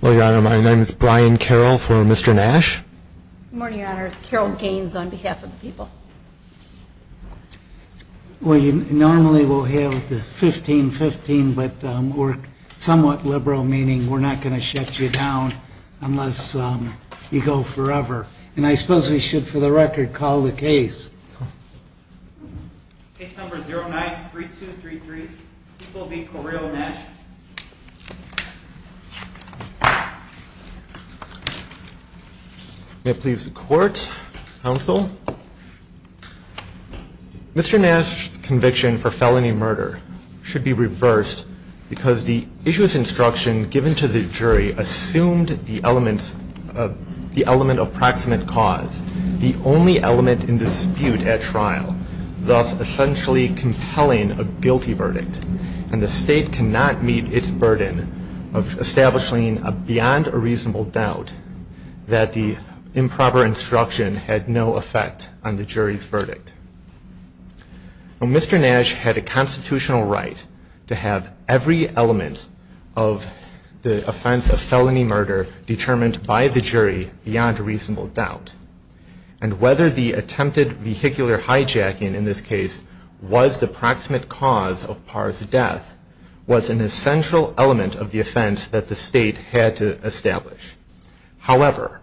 Well, your honor, my name is Brian Carroll for Mr. Nash. Good morning, your honors, Carroll Gaines on behalf of the people. Well, you normally will have the 15-15, but we're somewhat liberal, meaning we're not going to shut you down unless you go forever. And I suppose we should, for the record, call the case. Case number 09-3233. This will be Correo Nash. May it please the court, counsel. Mr. Nash's conviction for felony murder should be reversed because the issue's instruction given to the jury assumed the element of proximate cause. The only element in the dispute at trial, thus essentially compelling a guilty verdict. And the state cannot meet its burden of establishing beyond a reasonable doubt that the improper instruction had no effect on the jury's verdict. Mr. Nash had a constitutional right to have every element of the offense of felony murder determined by the jury beyond a reasonable doubt. And whether the attempted vehicular hijacking in this case was the proximate cause of Parr's death was an essential element of the offense that the state had to establish. However,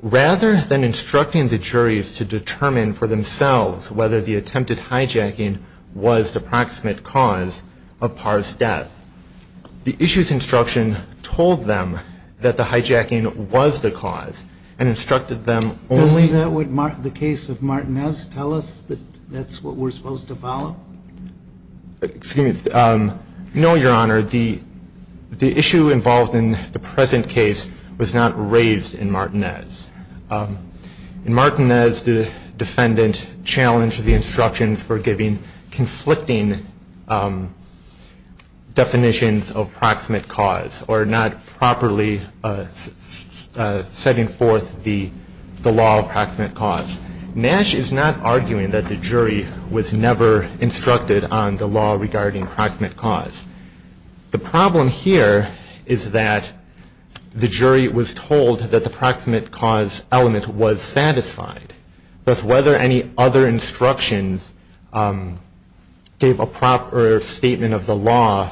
rather than instructing the juries to determine for themselves whether the attempted hijacking was the proximate cause of Parr's death, the issue's instruction told them that the hijacking was the cause and instructed them only to... Only that would the case of Martinez tell us that that's what we're supposed to follow? Excuse me. No, Your Honor. The issue involved in the present case was not raised in Martinez. In Martinez, the defendant challenged the instructions for giving conflicting definitions of proximate cause or not properly setting forth the law of proximate cause. Nash is not arguing that the jury was never instructed on the law regarding proximate cause. The problem here is that the jury was told that the proximate cause element was satisfied. Thus, whether any other instructions gave a proper statement of the law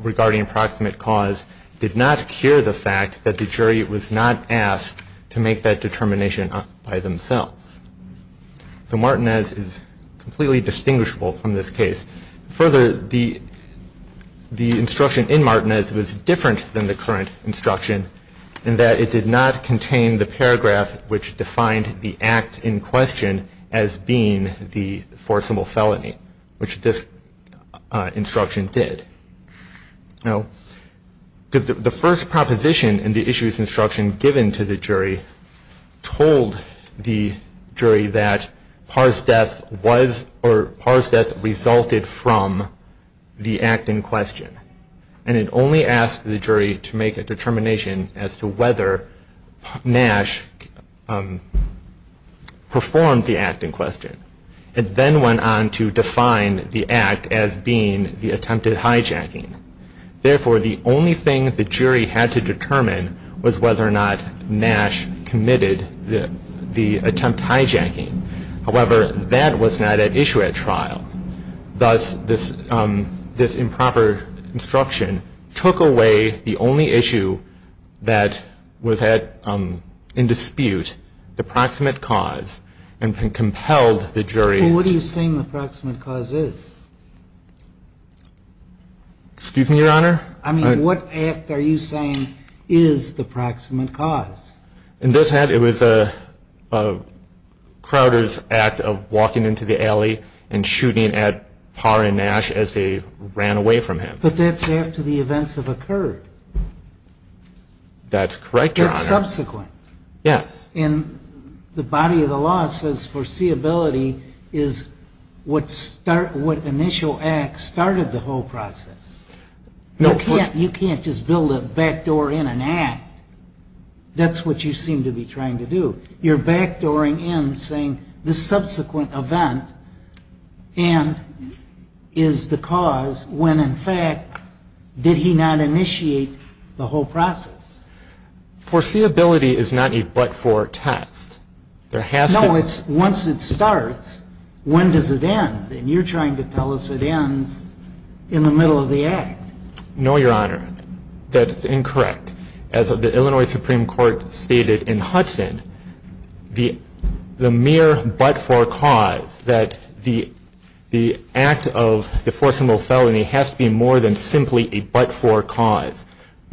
regarding proximate cause did not cure the fact that the jury was not asked to make that determination by themselves. So, Martinez is completely distinguishable from this case. Further, the instruction in Martinez was different than the current instruction in that it did not contain the paragraph which defined the act in question as being the forcible felony, which this instruction did. The first proposition in the issue's instruction given to the jury told the jury that Parr's death resulted from the act in question. And it only asked the jury to make a determination as to whether Nash performed the act in question. It then went on to define the act as being the attempted hijacking. Therefore, the only thing the jury had to determine was whether or not Nash committed the attempt hijacking. However, that was not at issue at trial. And thus, this improper instruction took away the only issue that was in dispute, the proximate cause, and compelled the jury. Well, what are you saying the proximate cause is? Excuse me, Your Honor? I mean, what act are you saying is the proximate cause? In this act, it was Crowder's act of walking into the alley and shooting at Parr and Nash as they ran away from him. But that's after the events have occurred. That's correct, Your Honor. That's subsequent. Yes. And the body of the law says foreseeability is what initial act started the whole process. You can't just build a backdoor in an act. That's what you seem to be trying to do. You're backdooring in saying the subsequent event and is the cause when, in fact, did he not initiate the whole process. Foreseeability is not a but-for test. No, it's once it starts, when does it end? And you're trying to tell us it ends in the middle of the act. No, Your Honor. That is incorrect. As the Illinois Supreme Court stated in Hudson, the mere but-for cause that the act of the forcible felony has to be more than simply a but-for cause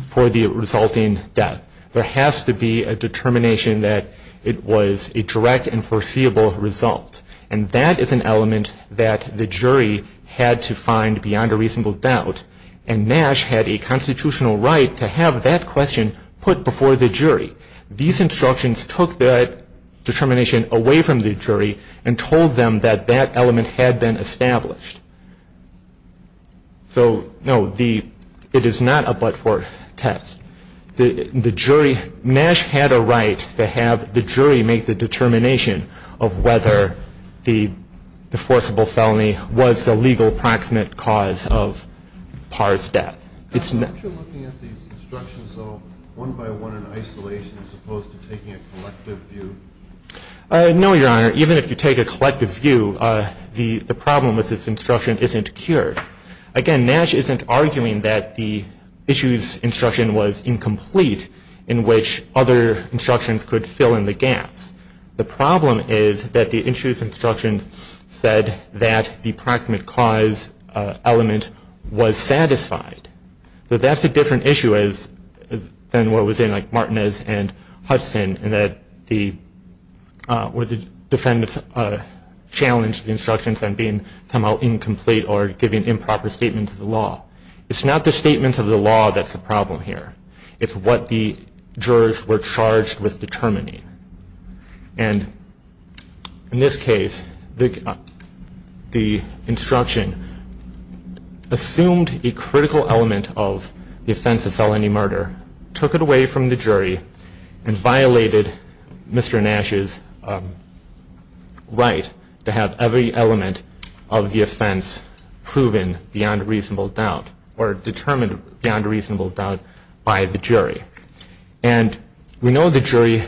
for the resulting death. There has to be a determination that it was a direct and foreseeable result. And that is an element that the jury had to find beyond a reasonable doubt. And Nash had a constitutional right to have that question put before the jury. These instructions took that determination away from the jury and told them that that element had been established. So, no, it is not a but-for test. Nash had a right to have the jury make the determination of whether the forcible felony was the legal proximate cause of Parr's death. Aren't you looking at these instructions, though, one by one in isolation as opposed to taking a collective view? No, Your Honor. Even if you take a collective view, the problem is this instruction isn't cured. Again, Nash isn't arguing that the issues instruction was incomplete in which other instructions could fill in the gaps. The problem is that the issues instruction said that the proximate cause element was satisfied. But that's a different issue than what was in Martinez and Hudson where the defendants challenged the instructions on being somehow incomplete or giving improper statements of the law. It's not the statements of the law that's the problem here. It's what the jurors were charged with determining. And in this case, the instruction assumed a critical element of the offense of felony murder, took it away from the jury, and violated Mr. Nash's right to have every element of the offense proven beyond reasonable doubt or determined beyond reasonable doubt by the jury. And we know the jury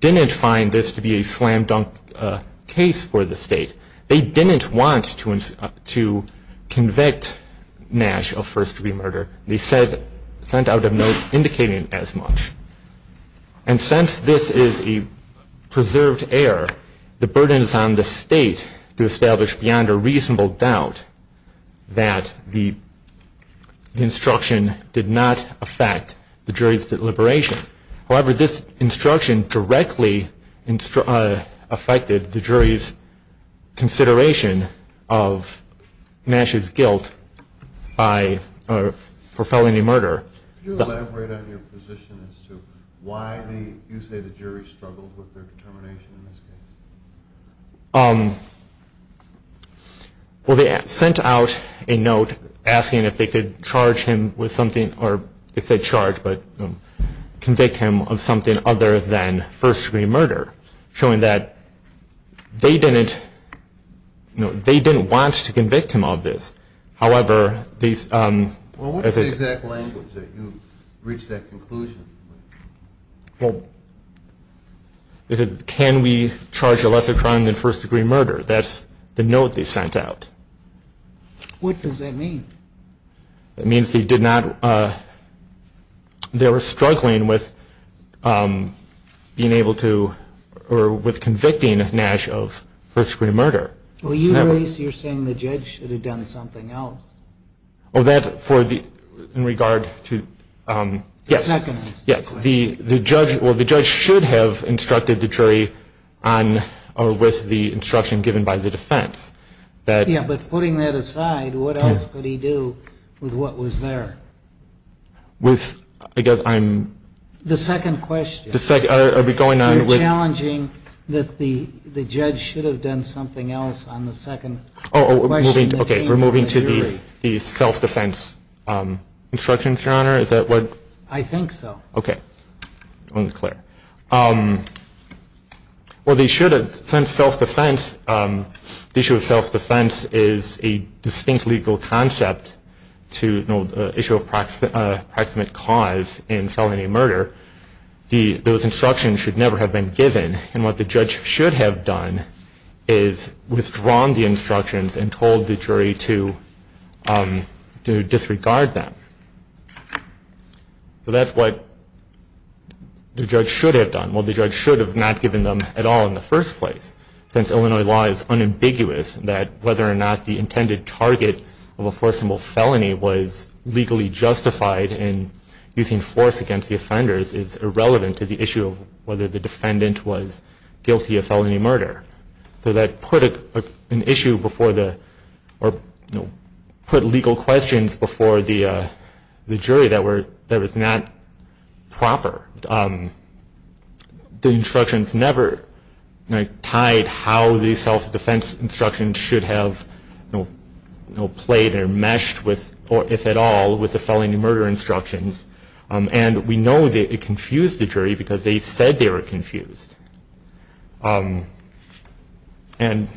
didn't find this to be a slam-dunk case for the state. They didn't want to convict Nash of first-degree murder. They sent out a note indicating as much. And since this is a preserved error, the burden is on the state to establish beyond a reasonable doubt that the instruction did not affect the jury's deliberation. However, this instruction directly affected the jury's consideration of Nash's guilt for felony murder. Can you elaborate on your position as to why you say the jury struggled with their determination in this case? Well, they sent out a note asking if they could charge him with something or if they'd charge but convict him of something other than first-degree murder, showing that they didn't want to convict him of this. However, they said- What was the exact language that you reached that conclusion with? Well, they said, can we charge a lesser crime than first-degree murder? That's the note they sent out. What does that mean? It means they did not-they were struggling with being able to- or with convicting Nash of first-degree murder. Well, you're saying the judge should have done something else. Oh, that for the-in regard to- Yes. The second question. Yes. The judge-well, the judge should have instructed the jury on or with the instruction given by the defense. Yeah, but putting that aside, what else could he do with what was there? With-I guess I'm- The second question. The second-are we going on with- You're challenging that the judge should have done something else on the second question that came from the jury. The self-defense instructions, Your Honor? Is that what- I think so. Okay. I'll declare. Well, they should have. Since self-defense-the issue of self-defense is a distinct legal concept to the issue of proximate cause in felony murder, those instructions should never have been given. And what the judge should have done is withdrawn the instructions and told the jury to disregard them. So that's what the judge should have done. Well, the judge should have not given them at all in the first place, since Illinois law is unambiguous that whether or not the intended target of a forcible felony was legally justified in using force against the offenders is irrelevant to the issue of whether the defendant was guilty of felony murder. So that put an issue before the-or put legal questions before the jury that was not proper. The instructions never tied how the self-defense instructions should have played or meshed with-or, if at all, with the felony murder instructions. And we know that it confused the jury because they said they were confused. And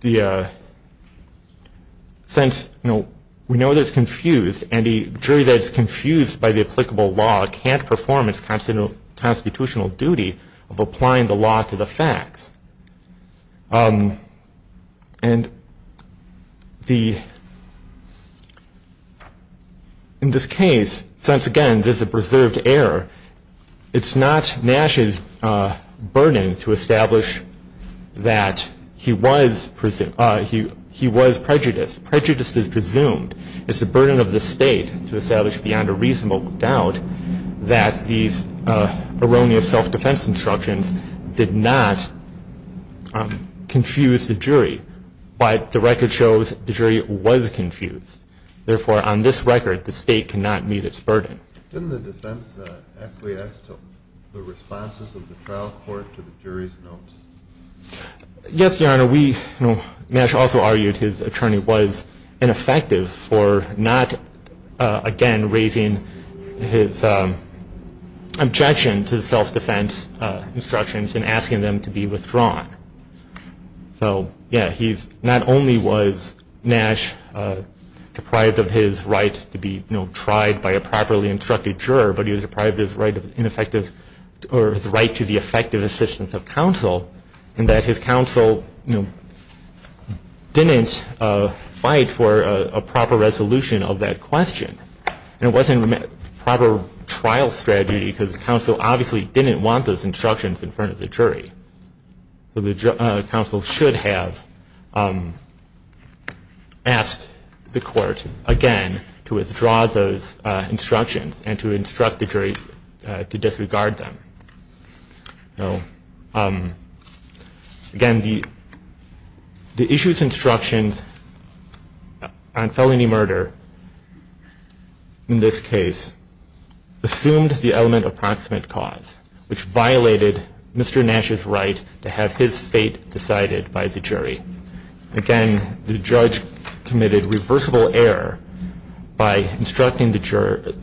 the-since, you know, we know that it's confused, and a jury that is confused by the applicable law can't perform its constitutional duty of applying the law to the facts. And the-in this case, since, again, there's a preserved error, it's not Nash's burden to establish that he was prejudiced. Prejudice is presumed. It's the burden of the state to establish beyond a reasonable doubt that these erroneous self-defense instructions did not confuse the jury. But the record shows the jury was confused. Therefore, on this record, the state cannot meet its burden. Didn't the defense acquiesce to the responses of the trial court to the jury's notes? Yes, Your Honor. Your Honor, we-Nash also argued his attorney was ineffective for not, again, raising his objection to the self-defense instructions and asking them to be withdrawn. So, yeah, he's-not only was Nash deprived of his right to be, you know, tried by a properly instructed juror, but he was deprived of his right of ineffective-or, his right to the effective assistance of counsel, and that his counsel, you know, didn't fight for a proper resolution of that question. And it wasn't a proper trial strategy, because the counsel obviously didn't want those instructions in front of the jury. So the counsel should have asked the court, again, to withdraw those instructions and to instruct the jury to disregard them. So, again, the issue's instructions on felony murder in this case assumed the element of proximate cause, which violated Mr. Nash's right to have his fate decided by the jury. Again, the judge committed reversible error by instructing the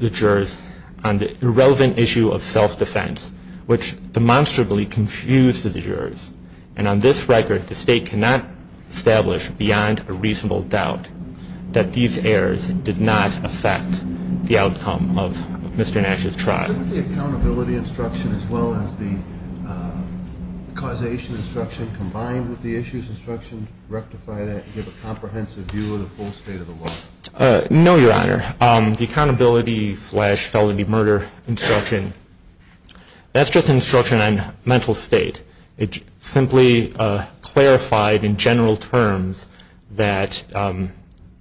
jurors on the irrelevant issue of self-defense, which demonstrably confused the jurors. And on this record, the State cannot establish, beyond a reasonable doubt, that these errors did not affect the outcome of Mr. Nash's trial. Couldn't the accountability instruction, as well as the causation instruction, combined with the issues instruction rectify that and give a comprehensive view of the full state of the law? No, Your Honor. The accountability-slash-felony-murder instruction, that's just an instruction on mental state. It simply clarified in general terms that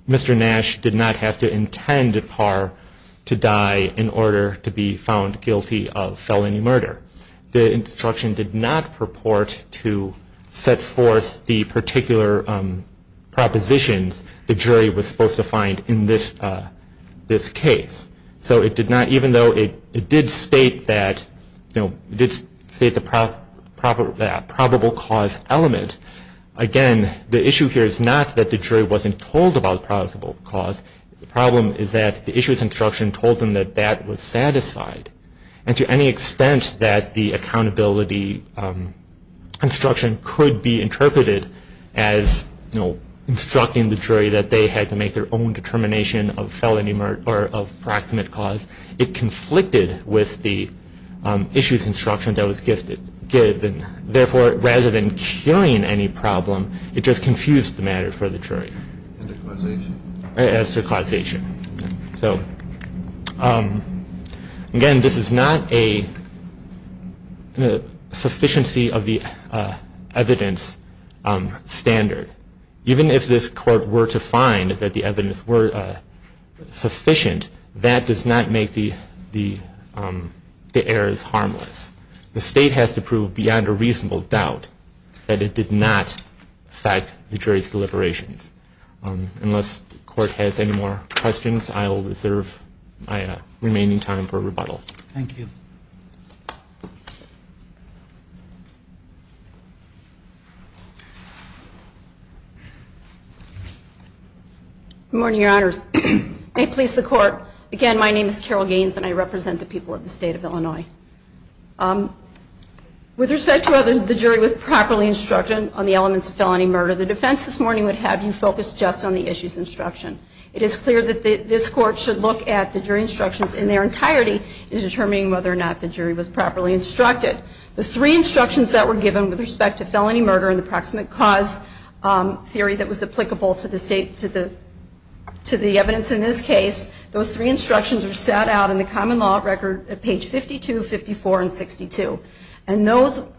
Mr. Nash did not have to intend at par to die in order to be found guilty of felony murder. The instruction did not purport to set forth the particular propositions the jury was supposed to find in this case. Even though it did state the probable cause element, again, the issue here is not that the jury wasn't told about the probable cause. The problem is that the issues instruction told them that that was satisfied. And to any extent that the accountability instruction could be interpreted as instructing the jury that they had to make their own determination of felony murder or of proximate cause, it conflicted with the issues instruction that was given. Therefore, rather than curing any problem, it just confused the matter for the jury. As to causation. As to causation. So, again, this is not a sufficiency of the evidence standard. Even if this court were to find that the evidence were sufficient, that does not make the errors harmless. The state has to prove beyond a reasonable doubt that it did not affect the jury's deliberations. Unless the court has any more questions, I will reserve my remaining time for rebuttal. Thank you. Good morning, Your Honors. May it please the Court. Again, my name is Carol Gaines, and I represent the people of the State of Illinois. With respect to whether the jury was properly instructed on the elements of felony murder, the defense this morning would have you focus just on the issues instruction. It is clear that this court should look at the jury instructions in their entirety in determining whether or not the jury was properly instructed. The three instructions that were given with respect to felony murder and the proximate cause theory that was applicable to the evidence in this case, those three instructions were set out in the common law record at page 52, 54, and 62. And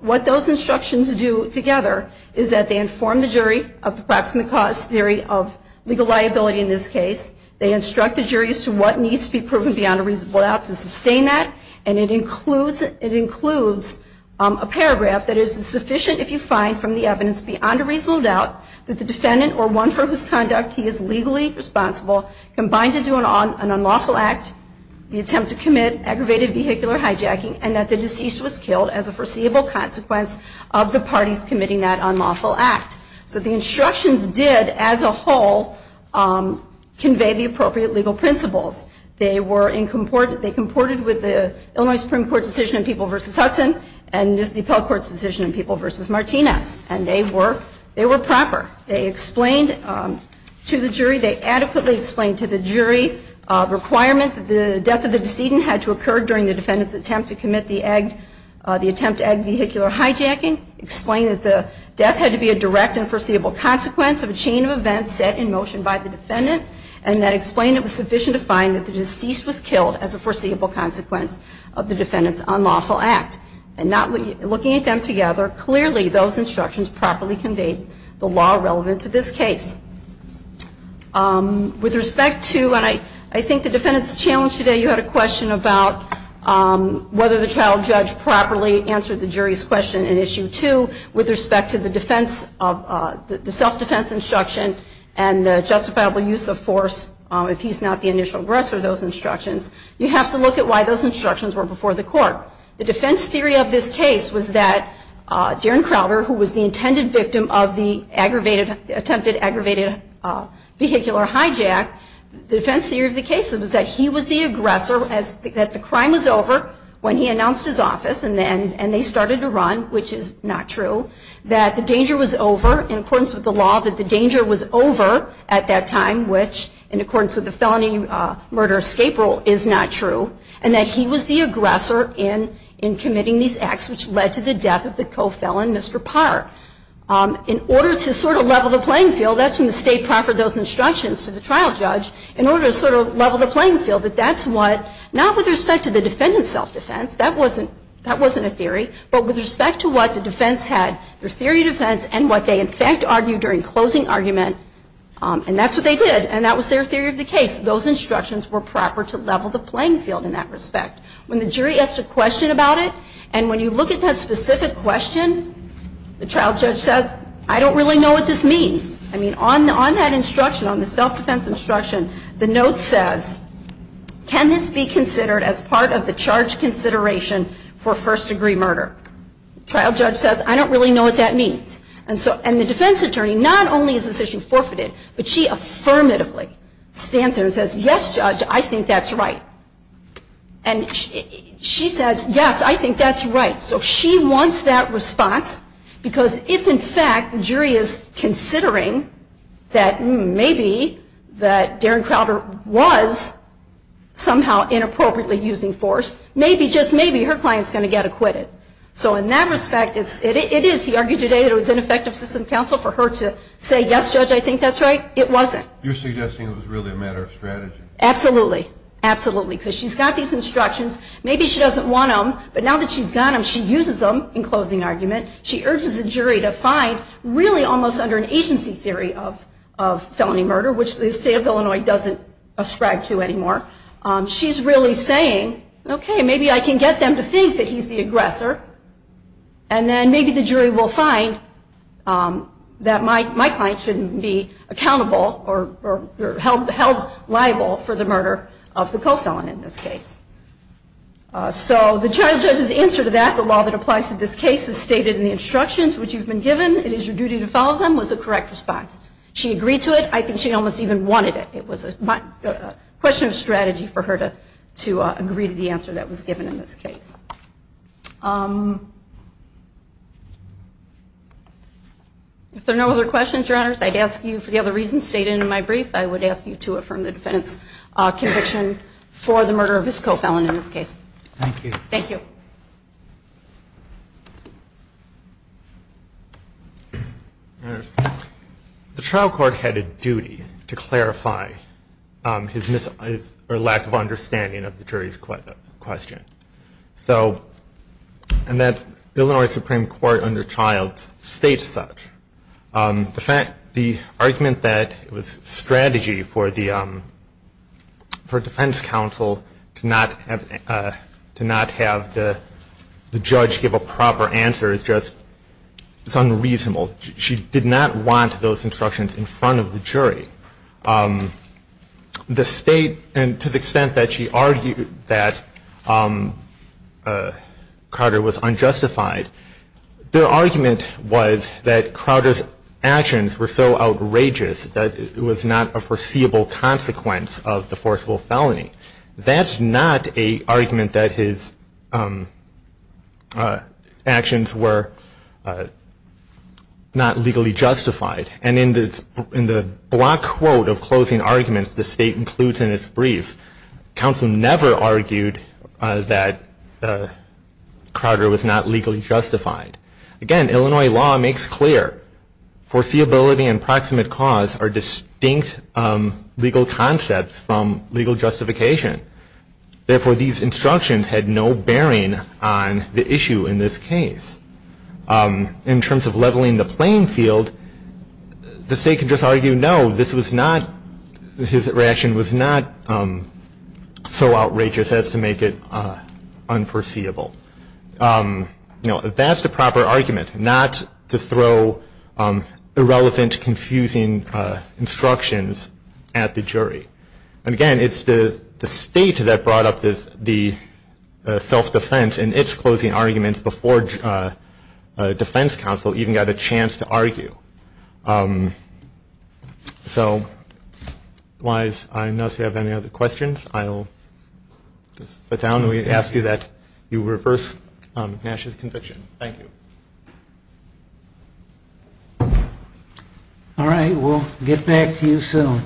what those instructions do together is that they inform the jury of the proximate cause theory of legal liability in this case, they instruct the jury as to what needs to be proven beyond a reasonable doubt to sustain that, and it includes a paragraph that is sufficient if you find from the evidence beyond a reasonable doubt that the defendant or one for whose conduct he is legally responsible combined into an unlawful act, the attempt to commit aggravated vehicular hijacking, and that the deceased was killed as a foreseeable consequence of the parties committing that unlawful act. So the instructions did, as a whole, convey the appropriate legal principles. They comported with the Illinois Supreme Court's decision in People v. Hudson and the Appellate Court's decision in People v. Martinez, and they were proper. They adequately explained to the jury the requirement that the death of the decedent had to occur during the defendant's attempt to commit the attempt to aggravate vehicular hijacking, explained that the death had to be a direct and foreseeable consequence of a chain of events set in motion by the defendant, and that explained it was sufficient to find that the deceased was killed as a foreseeable consequence of the defendant's unlawful act. And looking at them together, clearly those instructions properly conveyed the law relevant to this case. With respect to, and I think the defendant's challenge today, you had a question about whether the trial judge properly answered the jury's question in Issue 2 with respect to the defense, the self-defense instruction and the justifiable use of force if he's not the initial aggressor of those instructions. You have to look at why those instructions were before the court. The defense theory of this case was that Darren Crowder, who was the intended victim of the attempted aggravated vehicular hijack, the defense theory of the case was that he was the aggressor, that the crime was over when he announced his office and they started to run, which is not true, that the danger was over, in accordance with the law, that the danger was over at that time, which in accordance with the felony murder escape rule is not true, and that he was the aggressor in committing these acts which led to the death of the co-felon, Mr. Parr. In order to sort of level the playing field, that's when the State proffered those instructions to the trial judge, in order to sort of level the playing field, that that's what, not with respect to the defendant's self-defense, that wasn't a theory, but with respect to what the defense had, their theory of defense, and what they in fact argued during closing argument, and that's what they did. And that was their theory of the case. Those instructions were proper to level the playing field in that respect. When the jury asks a question about it, and when you look at that specific question, the trial judge says, I don't really know what this means. I mean, on that instruction, on the self-defense instruction, the note says, can this be considered as part of the charge consideration for first-degree murder? The trial judge says, I don't really know what that means. And the defense attorney, not only is this issue forfeited, but she affirmatively stands there and says, yes, judge, I think that's right. And she says, yes, I think that's right. So she wants that response, because if in fact the jury is considering that maybe that Darren Crowder was somehow inappropriately using force, maybe, just maybe, her client's going to get acquitted. So in that respect, it is, he argued today that it was ineffective system of counsel for her to say, yes, judge, I think that's right. It wasn't. You're suggesting it was really a matter of strategy. Absolutely. Absolutely. Because she's got these instructions. Maybe she doesn't want them, but now that she's got them, she uses them in closing argument. She urges the jury to find really almost under an agency theory of felony murder, which the state of Illinois doesn't ascribe to anymore. She's really saying, okay, maybe I can get them to think that he's the aggressor, and then maybe the jury will find that my client shouldn't be accountable or held liable for the murder of the co-felon in this case. So the child judge's answer to that, the law that applies to this case is stated in the instructions, which you've been given. It is your duty to follow them, was a correct response. She agreed to it. I think she almost even wanted it. It was a question of strategy for her to agree to the answer that was given in this case. If there are no other questions, Your Honors, I'd ask you for the other reasons stated in my brief, I would ask you to affirm the defendant's conviction for the murder of his co-felon in this case. Thank you. Thank you. The trial court had a duty to clarify his lack of understanding of the jury's question. And the Illinois Supreme Court under Childs states such. The argument that it was strategy for defense counsel to not have the judge give a proper answer is just unreasonable. She did not want those instructions in front of the jury. The state, and to the extent that she argued that Crowder was unjustified, their argument was that Crowder's actions were so outrageous that it was not a foreseeable consequence of the forcible felony. That's not an argument that his actions were not legally justified. And in the block quote of closing arguments the state includes in its brief, counsel never argued that Crowder was not legally justified. Again, Illinois law makes clear foreseeability and proximate cause are distinct legal concepts from legal justification. Therefore, these instructions had no bearing on the issue in this case. In terms of leveling the playing field, the state could just argue no, this was not, his reaction was not so outrageous as to make it unforeseeable. That's the proper argument, not to throw irrelevant, confusing instructions at the jury. And again, it's the state that brought up the self-defense and its closing arguments before defense counsel even got a chance to argue. So, I don't know if you have any other questions. I'll just sit down and ask you that you reverse Nash's conviction. Thank you. All right, we'll get back to you soon.